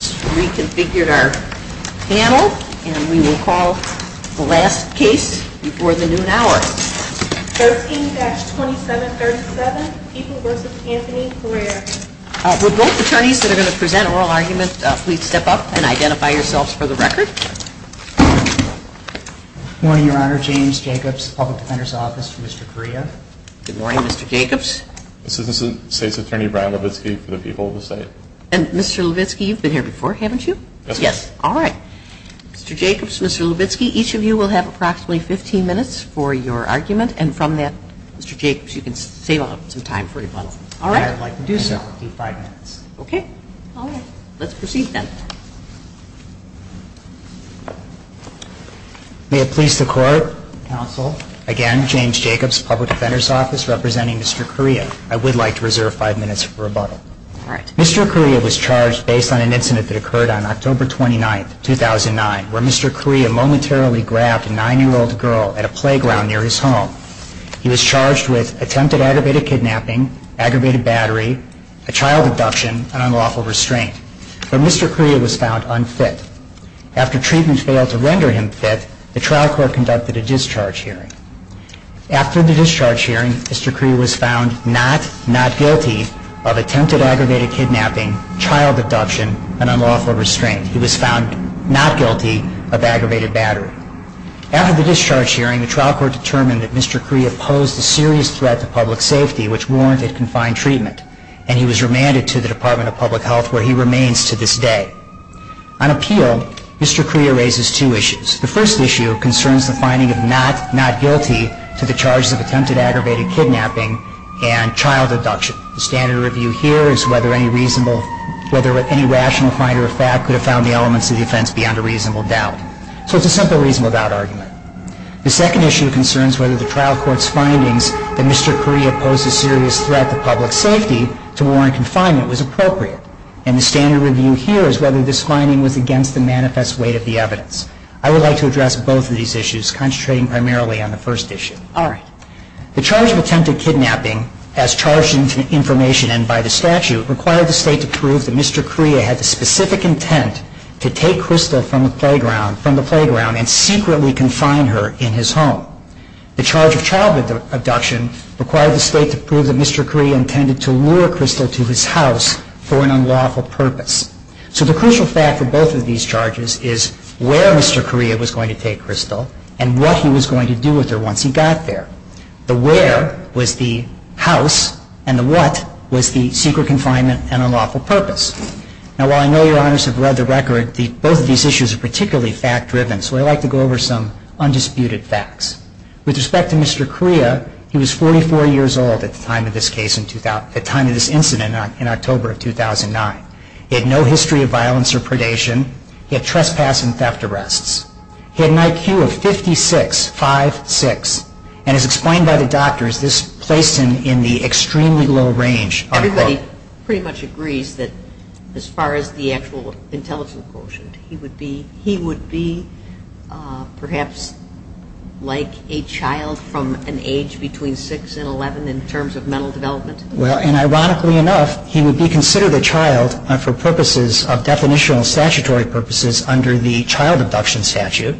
Reconfigured our panel, and we will call the last case before the noon hour. 13-2737, People v. Anthony Correa. Will both attorneys that are going to present oral arguments please step up and identify yourselves for the record. Good morning, Your Honor. James Jacobs, Public Defender's Office for Mr. Correa. Good morning, Mr. Jacobs. Assistant State's Attorney Brian Levitsky for the People of the State. And Mr. Levitsky, you've been here before, haven't you? Yes. All right. Mr. Jacobs, Mr. Levitsky, each of you will have approximately 15 minutes for your argument, and from that, Mr. Jacobs, you can save up some time for rebuttal. All right. I would like to do so. Okay. Let's proceed then. May it please the Court, Counsel, again, James Jacobs, Public Defender's Office, representing Mr. Correa. I would like to reserve five minutes for rebuttal. All right. Mr. Correa was charged based on an incident that occurred on October 29, 2009, where Mr. Correa momentarily grabbed a 9-year-old girl at a playground near his home. He was charged with attempted aggravated kidnapping, aggravated battery, a child abduction, and unlawful restraint. But Mr. Correa was found unfit. After treatment failed to render him fit, the trial court conducted a discharge hearing. After the discharge hearing, Mr. Correa was found not, not guilty of attempted aggravated kidnapping, child abduction, and unlawful restraint. He was found not guilty of aggravated battery. After the discharge hearing, the trial court determined that Mr. Correa posed a serious threat to public safety, which warranted confined treatment, and he was remanded to the Department of Public Health, where he remains to this day. On appeal, Mr. Correa raises two issues. The first issue concerns the finding of not, not guilty to the charges of attempted aggravated kidnapping and child abduction. The standard review here is whether any reasonable, whether any rational finder of fact could have found the elements of the offense beyond a reasonable doubt. So it's a simple reasonable doubt argument. The second issue concerns whether the trial court's findings that Mr. Correa posed a serious threat to public safety to warrant confinement was appropriate. And the standard review here is whether this finding was against the manifest weight of the evidence. I would like to address both of these issues, concentrating primarily on the first issue. All right. The charge of attempted kidnapping, as charged in information and by the statute, required the State to prove that Mr. Correa had the specific intent to take Crystal from the playground and secretly confine her in his home. The charge of child abduction required the State to prove that Mr. Correa intended to lure Crystal to his house for an unlawful purpose. So the crucial fact for both of these charges is where Mr. Correa was going to take Crystal and what he was going to do with her once he got there. The where was the house, and the what was the secret confinement and unlawful purpose. Now, while I know Your Honors have read the record, both of these issues are particularly fact-driven, so I'd like to go over some undisputed facts. With respect to Mr. Correa, he was 44 years old at the time of this case, at the time of this incident in October of 2009. He had no history of violence or predation. He had trespass and theft arrests. He had an IQ of 56.56, and as explained by the doctors, this placed him in the extremely low range. Everybody pretty much agrees that as far as the actual intelligence quotient, he would be perhaps like a child from an age between 6 and 11 in terms of mental development. Well, and ironically enough, he would be considered a child for purposes of definitional statutory purposes under the child abduction statute,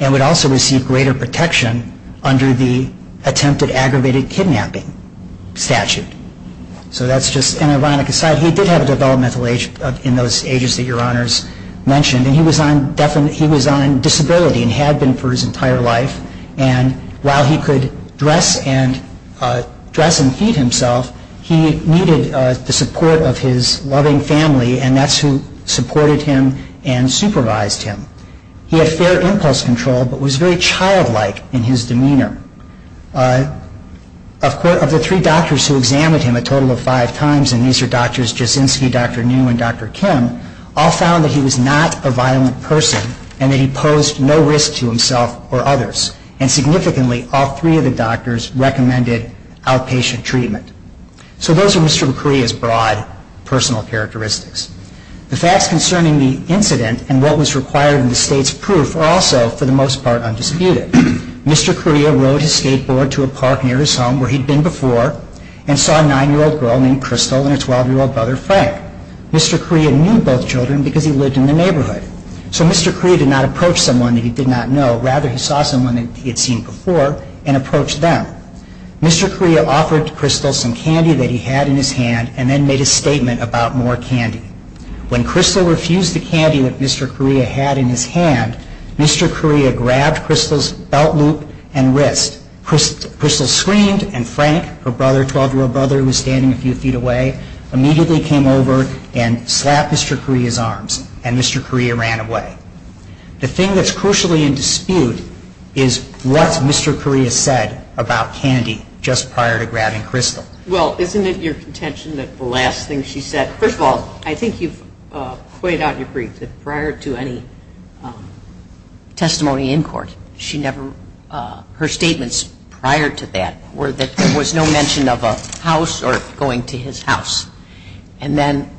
and would also receive greater protection under the attempted aggravated kidnapping statute. So that's just an ironic aside. He did have a developmental age in those ages that Your Honors mentioned, and he was on disability and had been for his entire life. And while he could dress and feed himself, he needed the support of his loving family, and that's who supported him and supervised him. He had fair impulse control, but was very childlike in his demeanor. Of the three doctors who examined him a total of five times, and these are Drs. Jasinski, Dr. New, and Dr. Kim, all found that he was not a violent person and that he posed no risk to himself or others. And significantly, all three of the doctors recommended outpatient treatment. So those are Mr. Correa's broad personal characteristics. The facts concerning the incident and what was required in the state's proof are also, for the most part, undisputed. Mr. Correa rode his skateboard to a park near his home where he'd been before and saw a 9-year-old girl named Crystal and her 12-year-old brother Frank. Mr. Correa knew both children because he lived in the neighborhood. So Mr. Correa did not approach someone that he did not know. Rather, he saw someone that he had seen before and approached them. Mr. Correa offered Crystal some candy that he had in his hand and then made a statement about more candy. When Crystal refused the candy that Mr. Correa had in his hand, Mr. Correa grabbed Crystal's belt loop and wrist. Crystal screamed and Frank, her brother, 12-year-old brother who was standing a few feet away, immediately came over and slapped Mr. Correa's arms and Mr. Correa ran away. The thing that's crucially in dispute is what Mr. Correa said about candy just prior to grabbing Crystal. Well, isn't it your contention that the last thing she said, first of all, I think you've pointed out in your brief that prior to any testimony in court, she never, her statements prior to that were that there was no mention of a house or going to his house. And then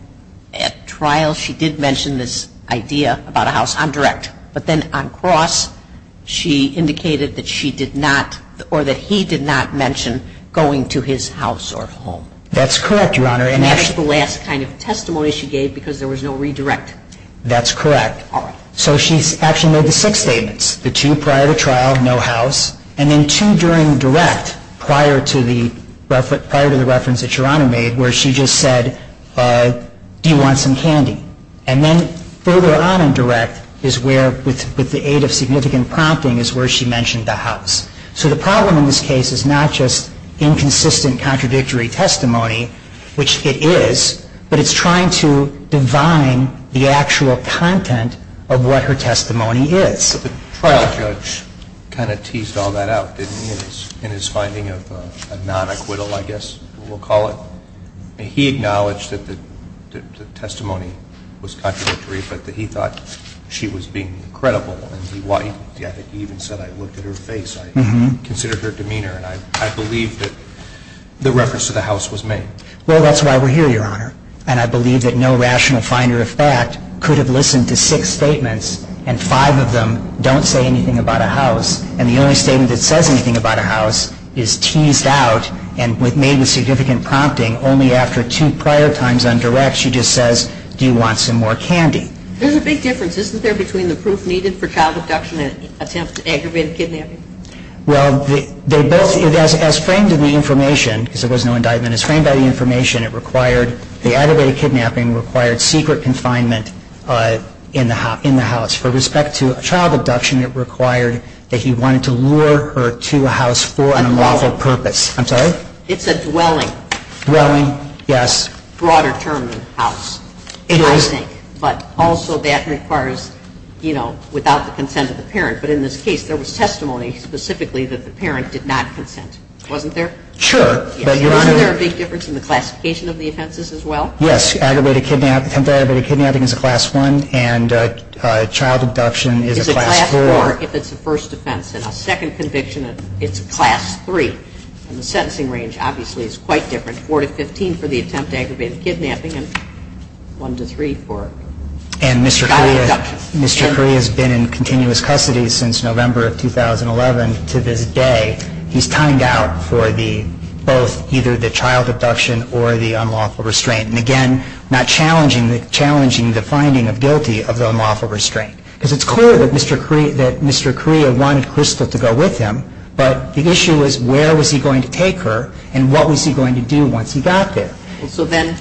at trial, she did mention this idea about a house on direct. But then on cross, she indicated that she did not or that he did not mention going to his house or home. That's correct, Your Honor. And that was the last kind of testimony she gave because there was no redirect. That's correct. All right. So she actually made the six statements, the two prior to trial, no house, and then two during direct prior to the reference that Your Honor made where she just said, do you want some candy? And then further on in direct is where, with the aid of significant prompting, is where she mentioned the house. So the problem in this case is not just inconsistent, contradictory testimony, which it is, but it's trying to divine the actual content of what her testimony is. But the trial judge kind of teased all that out, didn't he, in his finding of a non-acquittal, I guess we'll call it. He acknowledged that the testimony was contradictory, but that he thought she was being credible. And he even said, I looked at her face, I considered her demeanor, and I believe that the reference to the house was made. Well, that's why we're here, Your Honor. And I believe that no rational finder of fact could have listened to six statements and five of them don't say anything about a house. And the only statement that says anything about a house is teased out and made with significant prompting only after two prior times on direct. She just says, do you want some more candy? There's a big difference, isn't there, between the proof needed for child abduction and attempt to aggravate a kidnapping? Well, they both, as framed in the information, because there was no indictment, as framed by the information, it required, the aggravated kidnapping required secret confinement in the house. For respect to child abduction, it required that he wanted to lure her to a house for an unlawful purpose. I'm sorry? It's a dwelling. Dwelling, yes. Broader term than house, I think. It is. But also that requires, you know, without the consent of the parent. But in this case, there was testimony specifically that the parent did not consent, wasn't there? Sure. Isn't there a big difference in the classification of the offenses as well? Yes. Aggravated kidnapping, attempt to aggravate a kidnapping is a class one and child abduction is a class four. Is a class four if it's a first offense. And a second conviction, it's a class three. And the sentencing range, obviously, is quite different. Four to 15 for the attempt to aggravate a kidnapping and one to three for child abduction. And Mr. Correa has been in continuous custody since November of 2011. To this day, he's timed out for both either the child abduction or the unlawful restraint. And again, not challenging the finding of guilty of the unlawful restraint. Because it's clear that Mr. Correa wanted Crystal to go with him, but the issue was where was he going to take her and what was he going to do once he got there? So then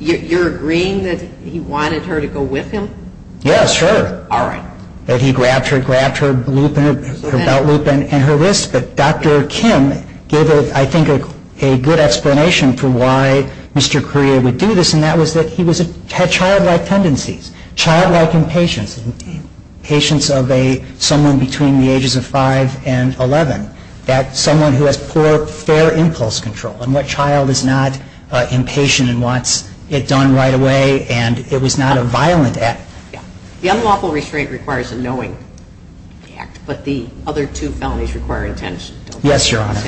you're agreeing that he wanted her to go with him? Yes, sure. All right. That he grabbed her, grabbed her loop and her belt loop and her wrist. But Dr. Kim gave, I think, a good explanation for why Mr. Correa would do this. And that was that he had childlike tendencies. Childlike impatience. Impatience of someone between the ages of five and 11. That someone who has poor, fair impulse control. And what child is not impatient and wants it done right away and it was not a violent act. The unlawful restraint requires a knowing act, but the other two felonies require intention. Yes, Your Honor.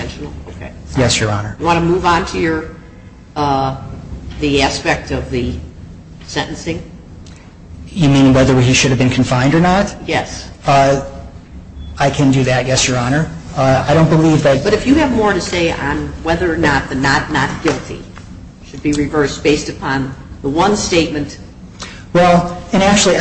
Yes, Your Honor. You want to move on to the aspect of the sentencing? You mean whether he should have been confined or not? Yes. I can do that, yes, Your Honor. I don't believe that. But if you have more to say on whether or not the not not guilty should be reversed based upon the one statement. Well, and actually, he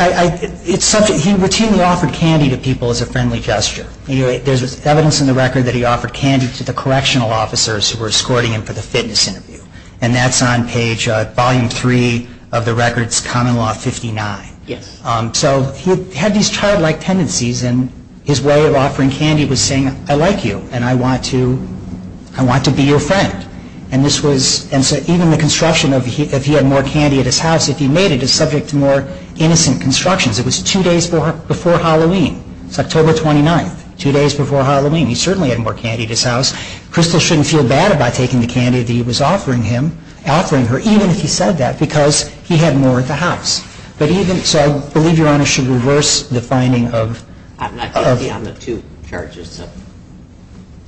routinely offered candy to people as a friendly gesture. There's evidence in the record that he offered candy to the correctional officers who were escorting him for the fitness interview. And that's on page volume three of the records common law 59. Yes. So he had these childlike tendencies and his way of offering candy was saying, I like you and I want to be your friend. And this was, and so even the construction of, if he had more candy at his house, if he made it, is subject to more innocent constructions. It was two days before Halloween. It's October 29th, two days before Halloween. He certainly had more candy at his house. Crystal shouldn't feel bad about taking the candy that he was offering him, offering her, even if he said that, because he had more at the house. But even, so I believe Your Honor should reverse the finding of. I'm not guilty on the two charges, so.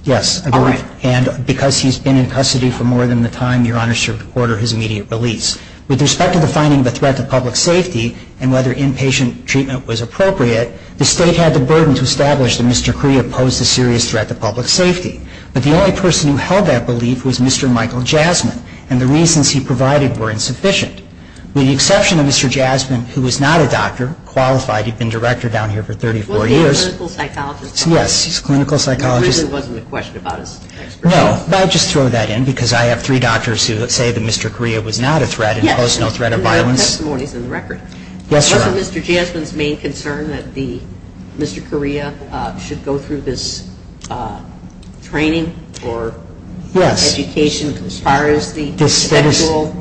Yes. All right. And because he's been in custody for more than the time, Your Honor should order his immediate release. With respect to the finding of a threat to public safety and whether inpatient treatment was appropriate, the State had the burden to establish that Mr. Cree opposed a serious threat to public safety. But the only person who held that belief was Mr. Michael Jasmine, and the reasons he provided were insufficient. With the exception of Mr. Jasmine, who was not a doctor, qualified, he'd been director down here for 34 years. He was a clinical psychologist. Yes, he was a clinical psychologist. There really wasn't a question about his expertise. No, but I'd just throw that in, because I have three doctors who say that Mr. Correa was not a threat and opposed no threat of violence. Yes, and there are testimonies in the record. Yes, Your Honor. Wasn't Mr. Jasmine's main concern that Mr. Correa should go through this training or education as far as the sexual?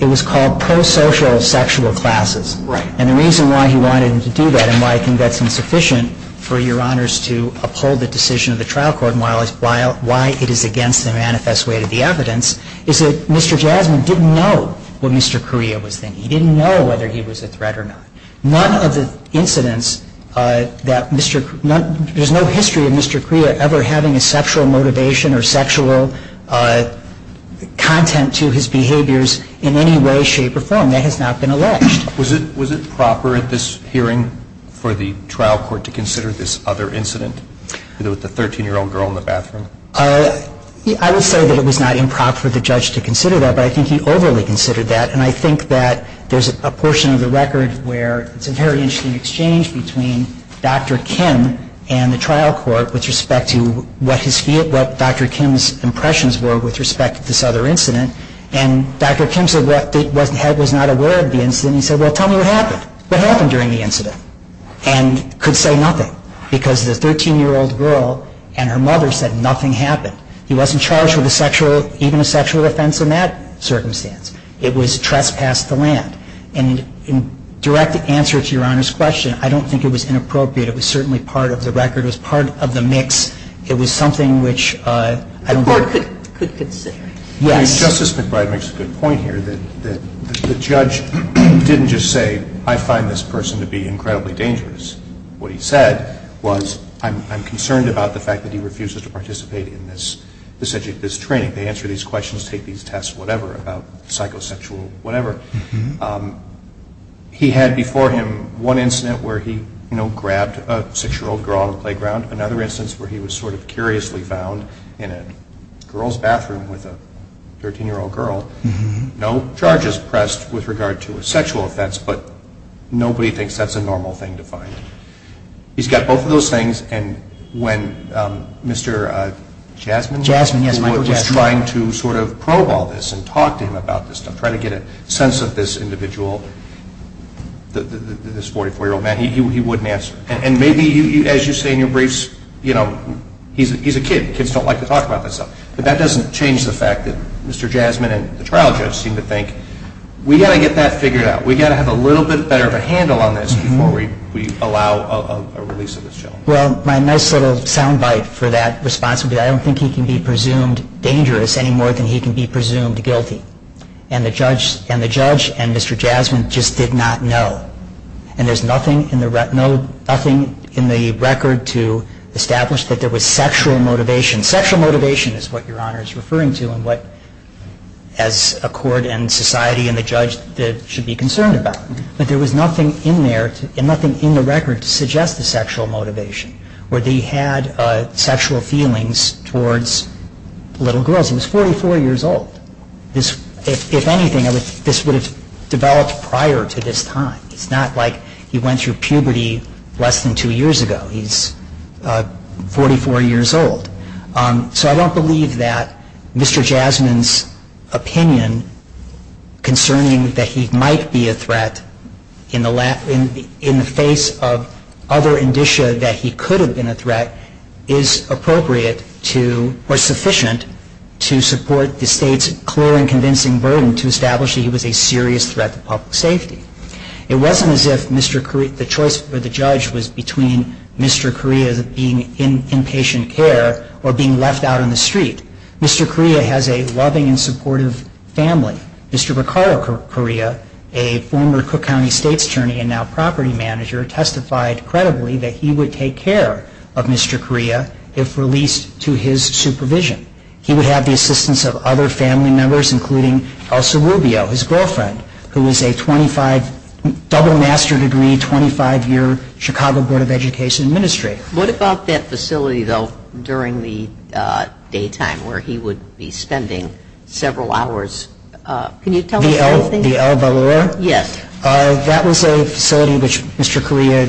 It was called prosocial sexual classes. Right. And the reason why he wanted him to do that and why I think that's insufficient for Your Honors to uphold the decision of the trial court and why it is against the manifest way of the evidence is that Mr. Jasmine didn't know what Mr. Correa was thinking. He didn't know whether he was a threat or not. None of the incidents that Mr. Correa, there's no history of Mr. Correa ever having a sexual motivation or sexual content to his behaviors in any way, shape, or form. That has not been alleged. Was it proper at this hearing for the trial court to consider this other incident with the 13-year-old girl in the bathroom? I would say that it was not improper for the judge to consider that, but I think he overly considered that. And I think that there's a portion of the record where it's a very interesting exchange between Dr. Kim and the trial court with respect to what Dr. Kim's impressions were with respect to this other incident. And Dr. Kim was not aware of the incident. He said, well, tell me what happened. What happened during the incident? And could say nothing because the 13-year-old girl and her mother said nothing happened. He wasn't charged with even a sexual offense in that circumstance. It was trespassed the land. And in direct answer to Your Honor's question, I don't think it was inappropriate. It was certainly part of the record. It was part of the mix. It was something which I don't think the court could consider. Justice McBride makes a good point here that the judge didn't just say, I find this person to be incredibly dangerous. What he said was, I'm concerned about the fact that he refuses to participate in this training. They answer these questions, take these tests, whatever, about psychosexual whatever. He had before him one incident where he grabbed a 6-year-old girl on the playground, another instance where he was sort of curiously found in a girl's bathroom with a 13-year-old girl. No charges pressed with regard to a sexual offense, but nobody thinks that's a normal thing to find. He's got both of those things. And when Mr. Jasmine was trying to sort of probe all this and talk to him about this stuff, try to get a sense of this individual, this 44-year-old man, he wouldn't answer. And maybe, as you say in your briefs, he's a kid. Kids don't like to talk about that stuff. But that doesn't change the fact that Mr. Jasmine and the trial judge seem to think, we've got to get that figured out. We've got to have a little bit better of a handle on this before we allow a release of this gentleman. Well, my nice little sound bite for that response would be, I don't think he can be presumed dangerous any more than he can be presumed guilty. And the judge and Mr. Jasmine just did not know. And there's nothing in the record to establish that there was sexual motivation. Sexual motivation is what Your Honor is referring to and what, as a court and society and the judge, should be concerned about. But there was nothing in there and nothing in the record to suggest the sexual motivation where they had sexual feelings towards little girls. He was 44 years old. If anything, this would have developed prior to this time. It's not like he went through puberty less than two years ago. He's 44 years old. So I don't believe that Mr. Jasmine's opinion concerning that he might be a threat in the face of other indicia that he could have been a threat is appropriate to, or sufficient to support the State's clear and convincing burden to establish that he was a serious threat to public safety. It wasn't as if the choice for the judge was between Mr. Correa being in inpatient care or being left out on the street. Mr. Correa has a loving and supportive family. Mr. Ricardo Correa, a former Cook County State's attorney and now property manager, testified credibly that he would take care of Mr. Correa if released to his supervision. He would have the assistance of other family members, including Elsa Rubio, his girlfriend, who is a 25, double master degree, 25-year Chicago Board of Education administrator. What about that facility, though, during the daytime where he would be spending several hours? Can you tell us anything? The El Valor? Yes. That was a facility which Mr. Correa,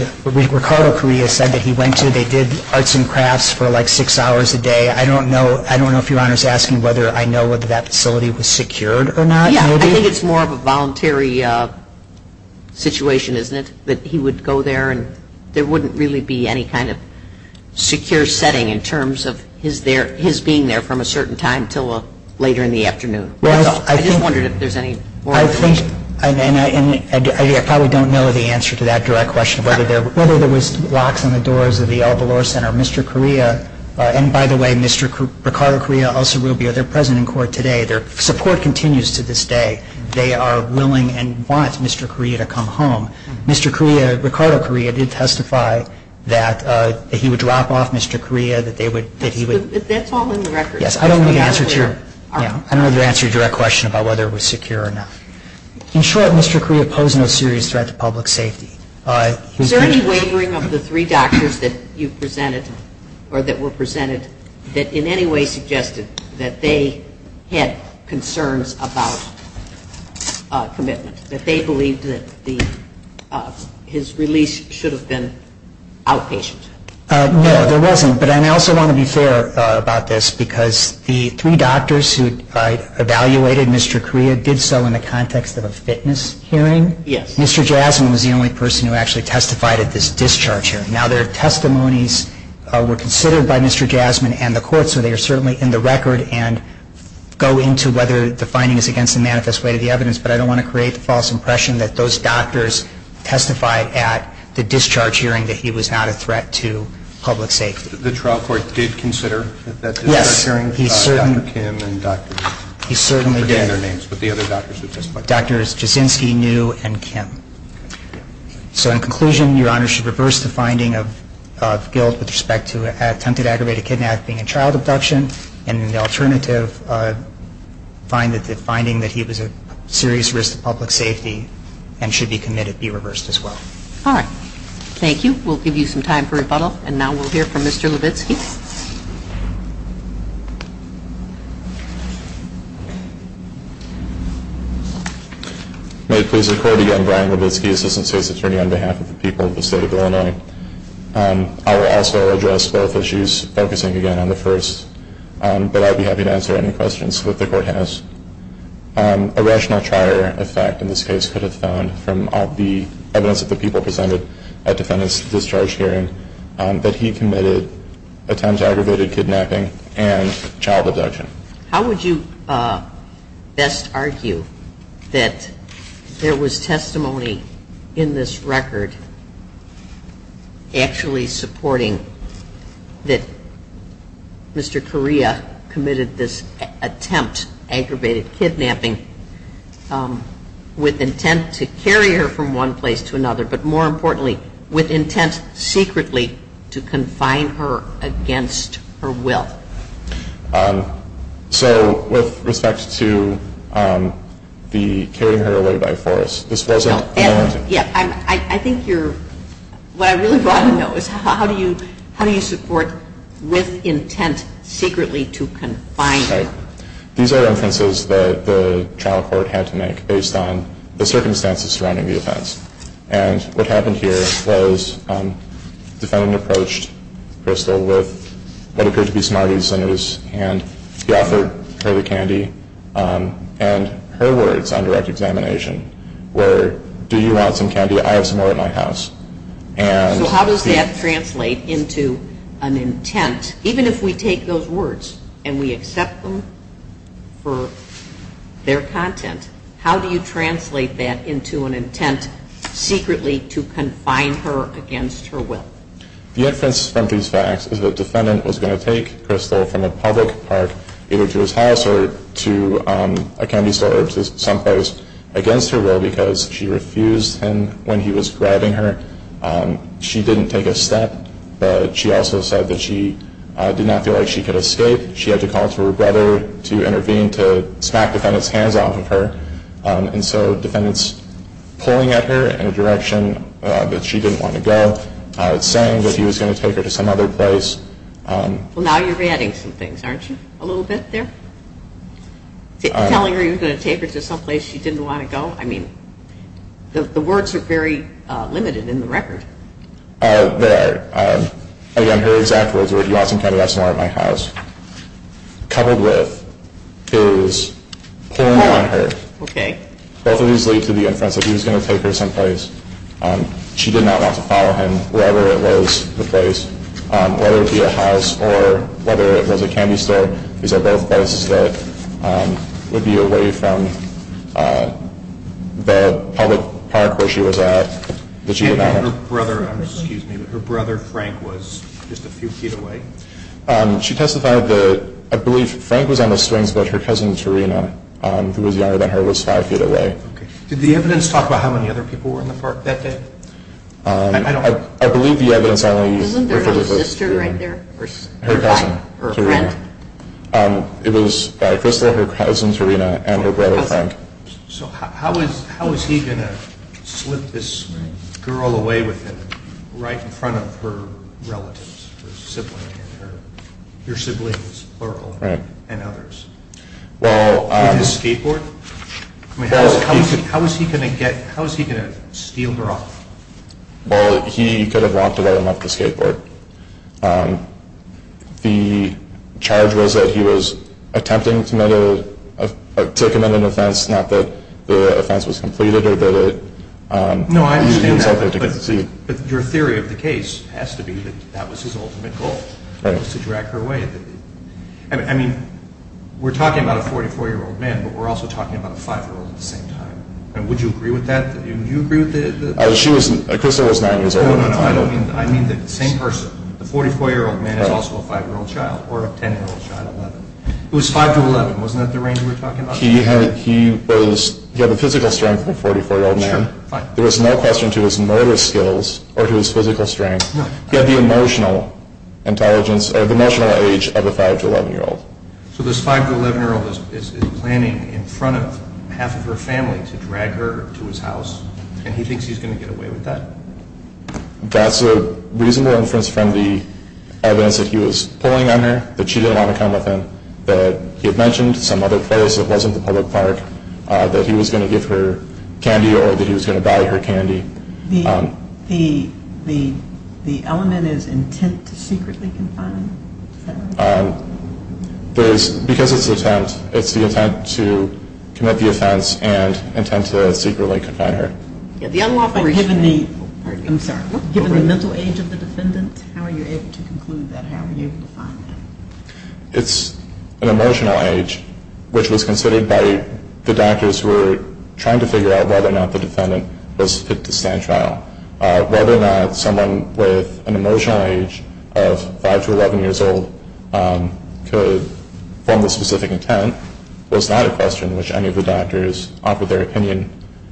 Ricardo Correa, said that he went to. They did arts and crafts for like six hours a day. I don't know if Your Honor is asking whether I know whether that facility was secured or not. I think it's more of a voluntary situation, isn't it, that he would go there and there wouldn't really be any kind of secure setting in terms of his being there from a certain time until later in the afternoon. I just wondered if there's any more information. I probably don't know the answer to that direct question, whether there was locks on the doors of the El Valor Center. Mr. Correa, and by the way, Mr. Ricardo Correa, Elsa Rubio, they're present in court today. Their support continues to this day. They are willing and want Mr. Correa to come home. Mr. Correa, Ricardo Correa, did testify that he would drop off Mr. Correa, that they would, that he would. That's all in the record. Yes. I don't know the answer to your direct question about whether it was secure or not. In short, Mr. Correa posed no serious threat to public safety. Is there any wavering of the three doctors that you presented or that were presented that in any way suggested that they had concerns about commitment, that they believed that his release should have been outpatient? No, there wasn't. But I also want to be fair about this because the three doctors who evaluated Mr. Correa did so in the context of a fitness hearing. Yes. Mr. Jasmine was the only person who actually testified at this discharge hearing. Now, their testimonies were considered by Mr. Jasmine and the court, so they are certainly in the record and go into whether the finding is against the manifest weight of the evidence. But I don't want to create the false impression that those doctors testified at the discharge hearing that he was not a threat to public safety. The trial court did consider that discharge hearing? Yes. Dr. Kim and Dr. Jasinski. He certainly did. I forget their names, but the other doctors who testified. Drs. Jasinski, New, and Kim. So in conclusion, Your Honor, should reverse the finding of guilt with respect to attempted aggravated kidnapping and child abduction, and in the alternative, find that the finding that he was a serious risk to public safety and should be committed be reversed as well. All right. Thank you. We'll give you some time for rebuttal, and now we'll hear from Mr. Levitsky. May it please the Court again, Brian Levitsky, Assistant State's Attorney, on behalf of the people of the State of Illinois. I will also address both issues, focusing again on the first, but I'll be happy to answer any questions that the Court has. A rational trier effect in this case could have found from all the evidence that the people presented attempted aggravated kidnapping and child abduction. How would you best argue that there was testimony in this record actually supporting that Mr. Correa committed this attempt, aggravated kidnapping, with intent to carry her from one place to another, but more importantly, with intent secretly to confine her against her will? So with respect to the carrying her away by force, this wasn't? No. I think what I really want to know is how do you support with intent secretly to confine her? These are inferences that the trial court had to make based on the circumstances surrounding the offense. And what happened here was the defendant approached Crystal with what appeared to be smarty centers and he offered her the candy and her words on direct examination were, do you want some candy? I have some more at my house. So how does that translate into an intent? Even if we take those words and we accept them for their content, how do you translate that into an intent secretly to confine her against her will? The inference from these facts is that the defendant was going to take Crystal from a public park either to his house or to a candy store or someplace against her will because she refused him when he was grabbing her. She didn't take a step, but she also said that she did not feel like she could escape. She had to call to her brother to intervene to smack the defendant's hands off of her. And so the defendant's pulling at her in a direction that she didn't want to go, saying that he was going to take her to some other place. Well, now you're adding some things, aren't you, a little bit there? Telling her you were going to take her to someplace she didn't want to go? I mean, the words are very limited in the record. They are. Again, her exact words were, do you want some candy? I have some more at my house. Coupled with his pulling on her, both of these lead to the inference that he was going to take her someplace. She did not want to follow him wherever it was the place, whether it be a house or whether it was a candy store. These are both places that would be away from the public park where she was at that she did not want to go. Her brother Frank was just a few feet away? She testified that I believe Frank was on the swings, but her cousin Tarina, who was younger than her, was five feet away. Did the evidence talk about how many other people were in the park that day? I believe the evidence only referred to her cousin Tarina. It was by Crystal, her cousin Tarina, and her brother Frank. So how was he going to slip this girl away with him right in front of her relatives, her siblings, her uncle, and others? With his skateboard? How was he going to steal her off? Well, he could have walked away without the skateboard. The charge was that he was attempting to commit an offense, not that the offense was completed. No, I understand that, but your theory of the case has to be that that was his ultimate goal, to drag her away. I mean, we're talking about a 44-year-old man, but we're also talking about a five-year-old at the same time. Would you agree with that? Crystal was nine years old. No, I don't mean that. I mean the same person. The 44-year-old man is also a five-year-old child, or a 10-year-old child. It was five to 11, wasn't that the range we were talking about? He had the physical strength of a 44-year-old man. There was no question to his motor skills or to his physical strength. He had the emotional age of a five to 11-year-old. So this five to 11-year-old is planning in front of half of her family to drag her to his house, and he thinks he's going to get away with that? That's a reasonable inference from the evidence that he was pulling on her, that she didn't want to come with him, that he had mentioned some other place that wasn't the public park, that he was going to give her candy or that he was going to buy her candy. The element is intent to secretly confine her? Because it's an attempt, it's the intent to commit the offense and the intent to secretly confine her. Given the mental age of the defendant, how are you able to conclude that? How are you able to find that? It's an emotional age, which was considered by the doctors who were trying to figure out whether or not the defendant was fit to stand trial. Whether or not someone with an emotional age of five to 11 years old could form the specific intent was not a question, which any of the doctors offered their opinion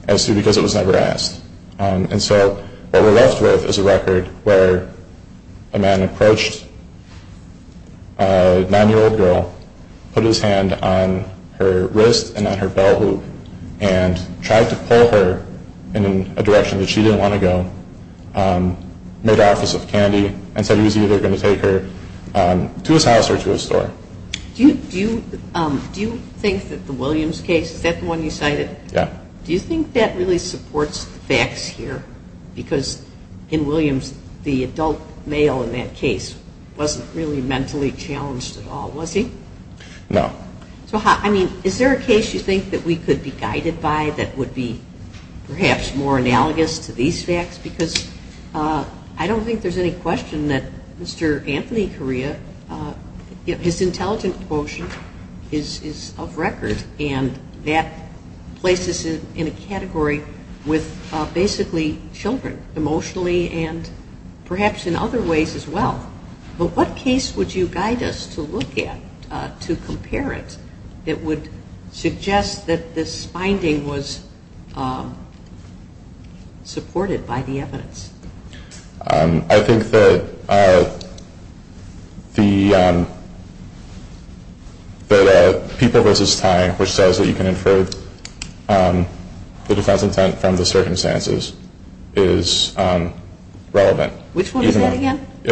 as to because it was never asked. And so what we're left with is a record where a man approached a nine-year-old girl, put his hand on her wrist and on her belt loop, and tried to pull her in a direction that she didn't want to go, made an office of candy, and said he was either going to take her to his house or to his store. Do you think that the Williams case, is that the one you cited? Yeah. Do you think that really supports the facts here? Because in Williams, the adult male in that case wasn't really mentally challenged at all, was he? No. So I mean, is there a case you think that we could be guided by that would be perhaps more analogous to these facts? Because I don't think there's any question that Mr. Anthony Correa, his intelligent emotion is of record, and that places him in a category with basically children emotionally and perhaps in other ways as well. But what case would you guide us to look at to compare it that would suggest that this finding was supported by the evidence? I think that People v. Ty, which says that you can infer the defense intent from the circumstances, is relevant. Which one is that again? It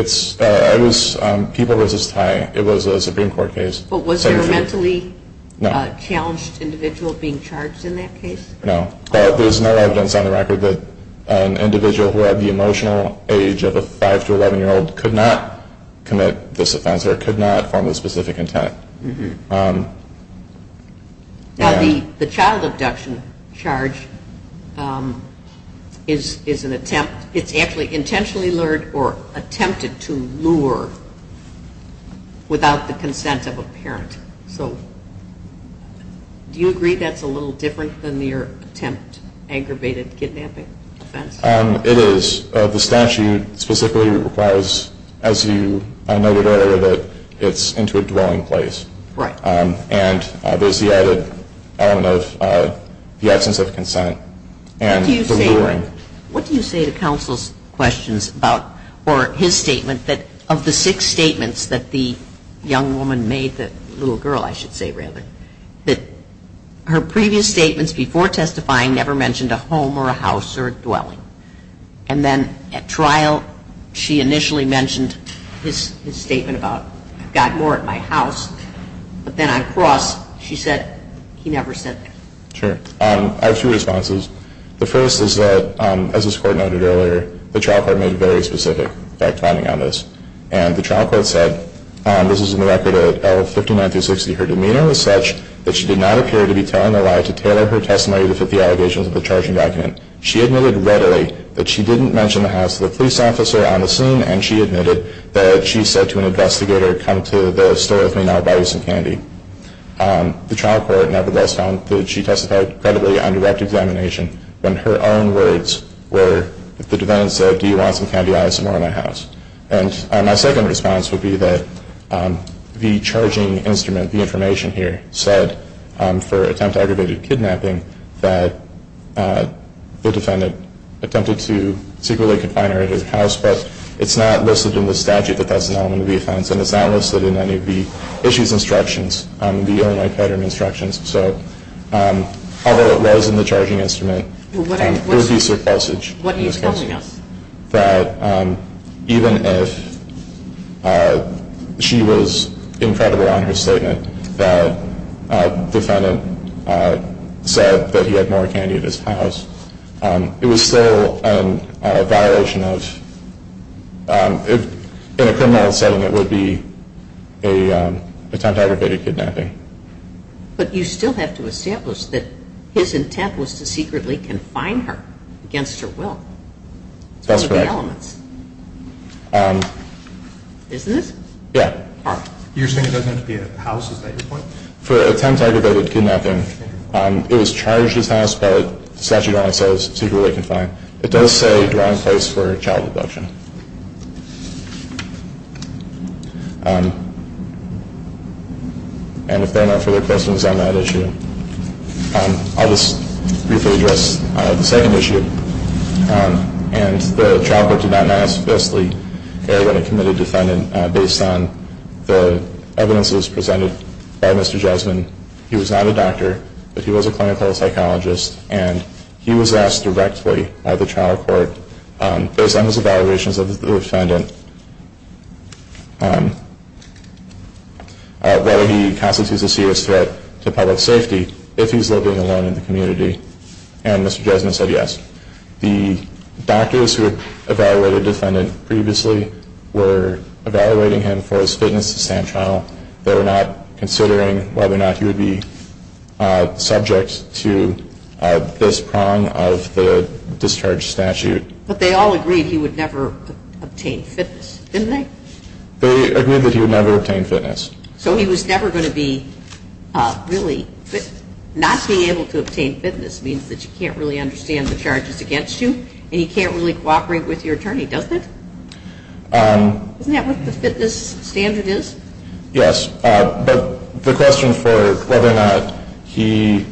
was People v. Ty. It was a Supreme Court case. But was there a mentally challenged individual being charged in that case? No. But there's no evidence on the record that an individual who had the emotional age of a 5 to 11-year-old could not commit this offense or could not form a specific intent. Now, the child abduction charge is an attempt. It's actually intentionally lured or attempted to lure without the consent of a parent. So do you agree that's a little different than your attempt, aggravated kidnapping offense? It is. The statute specifically requires, as you noted earlier, that it's into a dwelling place. Right. And there's the added element of the absence of consent and the luring. What do you say to counsel's questions about, or his statement, that of the six statements that the young woman made, the little girl, I should say, rather, that her previous statements before testifying never mentioned a home or a house or a dwelling. And then at trial, she initially mentioned his statement about, I've got more at my house. But then on cross, she said he never said that. Sure. I have two responses. The first is that, as this Court noted earlier, the trial court made very specific fact-finding on this. And the trial court said, this is in the record at L59-60, her demeanor was such that she did not appear to be telling a lie to tailor her testimony to fit the allegations of the charging document. She admitted readily that she didn't mention the house to the police officer on the scene, and she admitted that she said to an investigator, come to the store with me now, I'll buy you some candy. The trial court nevertheless found that she testified credibly on direct examination when her own words were that the defendant said, do you want some candy? I have some more in my house. And my second response would be that the charging instrument, the information here, said for attempt at aggravated kidnapping that the defendant attempted to secretly confine her at her house. But it's not listed in the statute that that's an element of the offense, and it's not listed in any of the issues instructions, the only pattern instructions. So although it was in the charging instrument, there would be surplusage. What are you telling us? That even if she was incredible on her statement, that the defendant said that he had more candy at his house, it was still a violation of, in a criminal setting, it would be an attempt at aggravated kidnapping. But you still have to establish that his intent was to secretly confine her against her will. That's correct. It's one of the elements. Isn't it? Yeah. You're saying it doesn't have to be at the house, is that your point? No. For attempt at aggravated kidnapping, it was charged at his house, but the statute only says secretly confined. It does say the wrong place for child abduction. And if there are no further questions on that issue, I'll just briefly address the second issue. And the trial court did not know how to specifically air when it committed a defendant based on the evidences presented by Mr. Jesmond. He was not a doctor, but he was a clinical psychologist, and he was asked directly by the trial court, based on his evaluations of the defendant, whether he constitutes a serious threat to public safety if he's living alone in the community. And Mr. Jesmond said yes. The doctors who evaluated the defendant previously were evaluating him for his fitness to stand trial. They were not considering whether or not he would be subject to this prong of the discharge statute. But they all agreed he would never obtain fitness, didn't they? They agreed that he would never obtain fitness. So he was never going to be really fit. Not being able to obtain fitness means that you can't really understand the charges against you, and you can't really cooperate with your attorney, doesn't it? Isn't that what the fitness standard is? Yes. But the question for whether or not he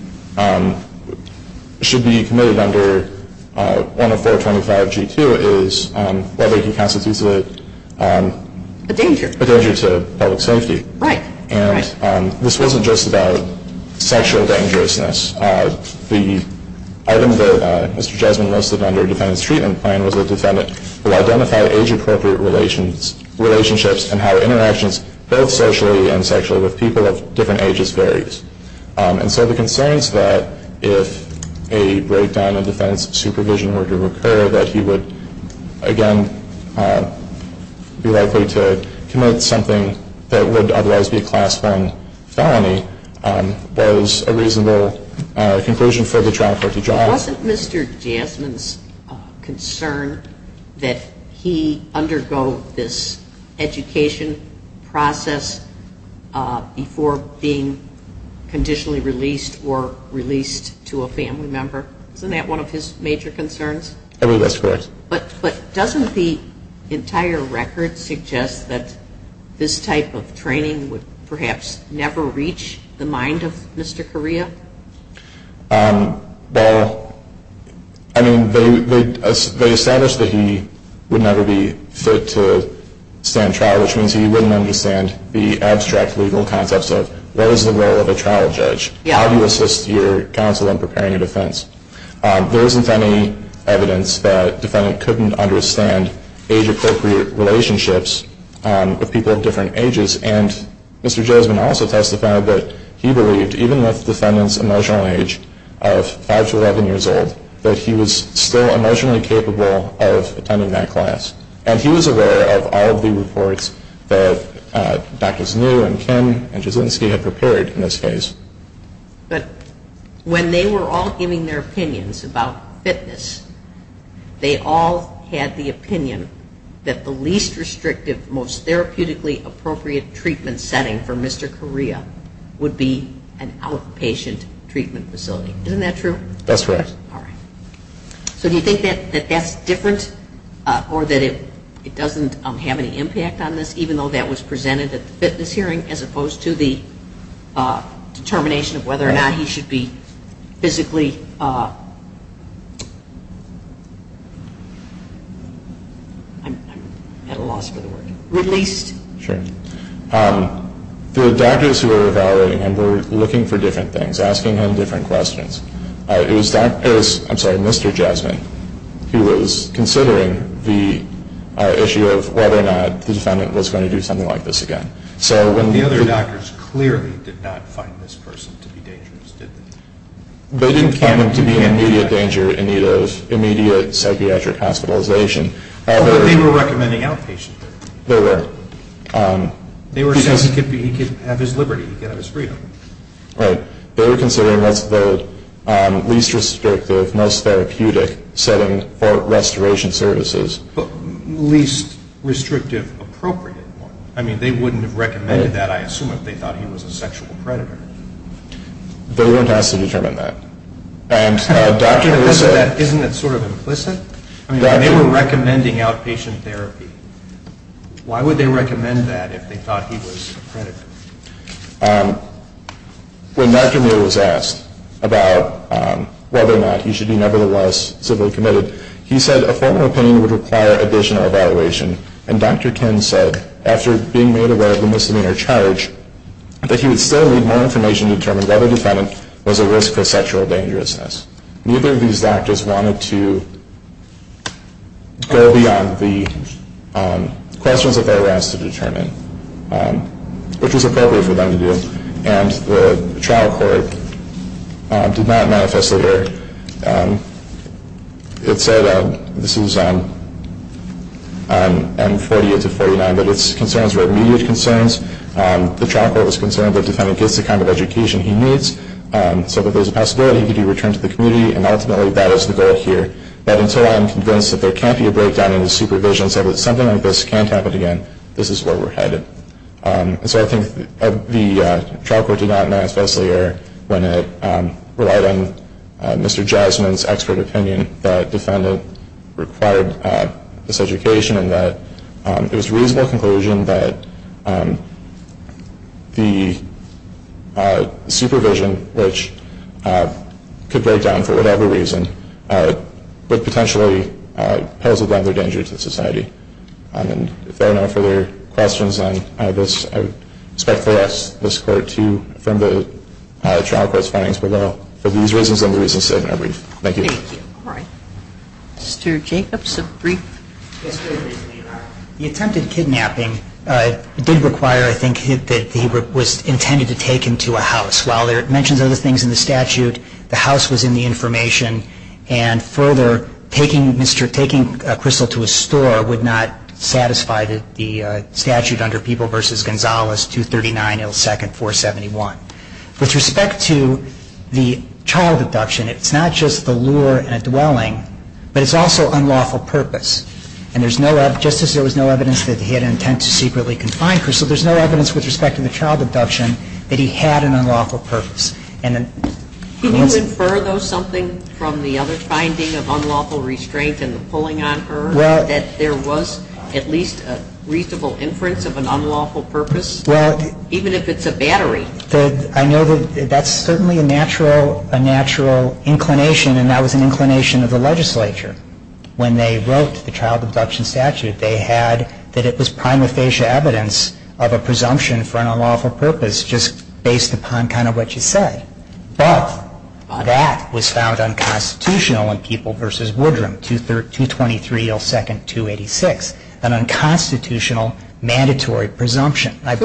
should be committed under 10425G2 is whether he constitutes a- A danger. A danger to public safety. Right. And this wasn't just about sexual dangerousness. The item that Mr. Jesmond listed under defendant's treatment plan was a defendant who identified age-appropriate relationships and how interactions both socially and sexually with people of different ages varies. And so the concerns that if a breakdown of defendant's supervision were to occur, that he would, again, be likely to commit something that would otherwise be a Class I felony, was a reasonable conclusion for the Trial Court to draw. Wasn't Mr. Jesmond's concern that he undergo this education process before being conditionally released or released to a family member? Isn't that one of his major concerns? I believe that's correct. But doesn't the entire record suggest that this type of training would perhaps never reach the mind of Mr. Correa? Well, I mean, they established that he would never be fit to stand trial, which means he wouldn't understand the abstract legal concepts of what is the role of a trial judge? How do you assist your counsel in preparing a defense? There isn't any evidence that defendant couldn't understand age-appropriate relationships with people of different ages. And Mr. Jesmond also testified that he believed, even with defendant's emotional age of 5 to 11 years old, that he was still emotionally capable of attending that class. And he was aware of all of the reports that Drs. New and Kim and Jasinski had prepared in this case. But when they were all giving their opinions about fitness, they all had the opinion that the least restrictive, most therapeutically appropriate treatment setting for Mr. Correa would be an outpatient treatment facility. Isn't that true? That's correct. All right. So do you think that that's different or that it doesn't have any impact on this, even though that was presented at the fitness hearing, as opposed to the determination of whether or not he should be physically released? Sure. The doctors who were evaluating him were looking for different things, asking him different questions. It was Mr. Jesmond who was considering the issue of whether or not the defendant was going to do something like this again. The other doctors clearly did not find this person to be dangerous, did they? They didn't find him to be in immediate danger in need of immediate psychiatric hospitalization. But they were recommending outpatient. They were. They were saying he could have his liberty, he could have his freedom. Right. They were considering what's the least restrictive, most therapeutic setting for restoration services. Least restrictive appropriate one. I mean, they wouldn't have recommended that, I assume, if they thought he was a sexual predator. They weren't asked to determine that. And Dr. Elissa… Isn't that sort of implicit? I mean, they were recommending outpatient therapy. Why would they recommend that if they thought he was a predator? When Dr. Neal was asked about whether or not he should be nevertheless civilly committed, he said a formal opinion would require additional evaluation. And Dr. Ken said, after being made aware of the misdemeanor charge, that he would still need more information to determine whether the defendant was at risk for sexual dangerousness. Neither of these actors wanted to go beyond the questions that they were asked to determine, which was appropriate for them to do. And the trial court did not manifest that error. It said, this is on 48 to 49, that its concerns were immediate concerns. The trial court was concerned that the defendant gets the kind of education he needs so that there's a possibility he can return to the community, and ultimately that is the goal here. But until I am convinced that there can't be a breakdown in his supervision, so that something like this can't happen again, this is where we're headed. And so I think the trial court did not manifest that error when it relied on Mr. Jasmine's expert opinion that the defendant required this education and that it was a reasonable conclusion that the supervision, which could break down for whatever reason, would potentially pose another danger to society. And if there are no further questions on this, I would expect for us, this court, to affirm the trial court's findings below. For these reasons and the reasons stated in our brief, thank you. Thank you. All right. Mr. Jacobs, a brief? Yes, Your Honor. The attempted kidnapping did require, I think, that he was intended to take him to a house. While it mentions other things in the statute, the house was in the information, and further, taking a crystal to a store would not satisfy the statute under People v. Gonzalez, 239 L. 2nd 471. With respect to the child abduction, it's not just the lure and a dwelling, but it's also unlawful purpose. And there's no evidence, just as there was no evidence that he had an intent to secretly confine Crystal, there's no evidence with respect to the child abduction that he had an unlawful purpose. Can you infer, though, something from the other finding of unlawful restraint and the pulling on her that there was at least a reasonable inference of an unlawful purpose, even if it's a battery? I know that that's certainly a natural inclination, and that was an inclination of the legislature. When they wrote the child abduction statute, they had that it was prima facie evidence of a presumption for an unlawful purpose just based upon kind of what you said. But that was found unconstitutional in People v. Woodrum, 223 L. 2nd 286, an unconstitutional mandatory presumption. I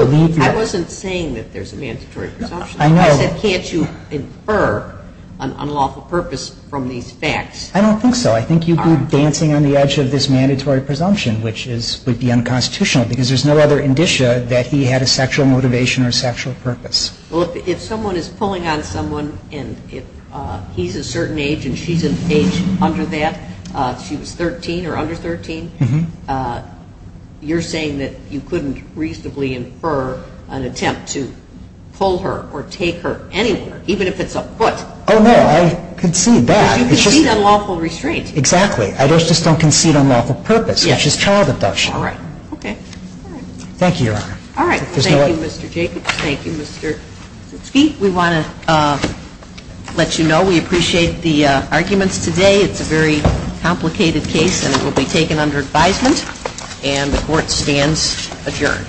wasn't saying that there's a mandatory presumption. I said can't you infer an unlawful purpose from these facts? I don't think so. I think you'd be dancing on the edge of this mandatory presumption, which would be unconstitutional because there's no other indicia that he had a sexual motivation or sexual purpose. Well, if someone is pulling on someone and he's a certain age and she's an age under that, she was 13 or under 13, you're saying that you couldn't reasonably infer an attempt to pull her or take her anywhere, even if it's a foot. Oh, no. I concede that. Because you concede unlawful restraint. Exactly. I just don't concede unlawful purpose, which is child abduction. All right. Okay. Thank you, Your Honor. All right. Thank you, Mr. Jacobs. Thank you, Mr. Zutske. We want to let you know we appreciate the arguments today. It's a very complicated case and it will be taken under advisement and the court stands adjourned.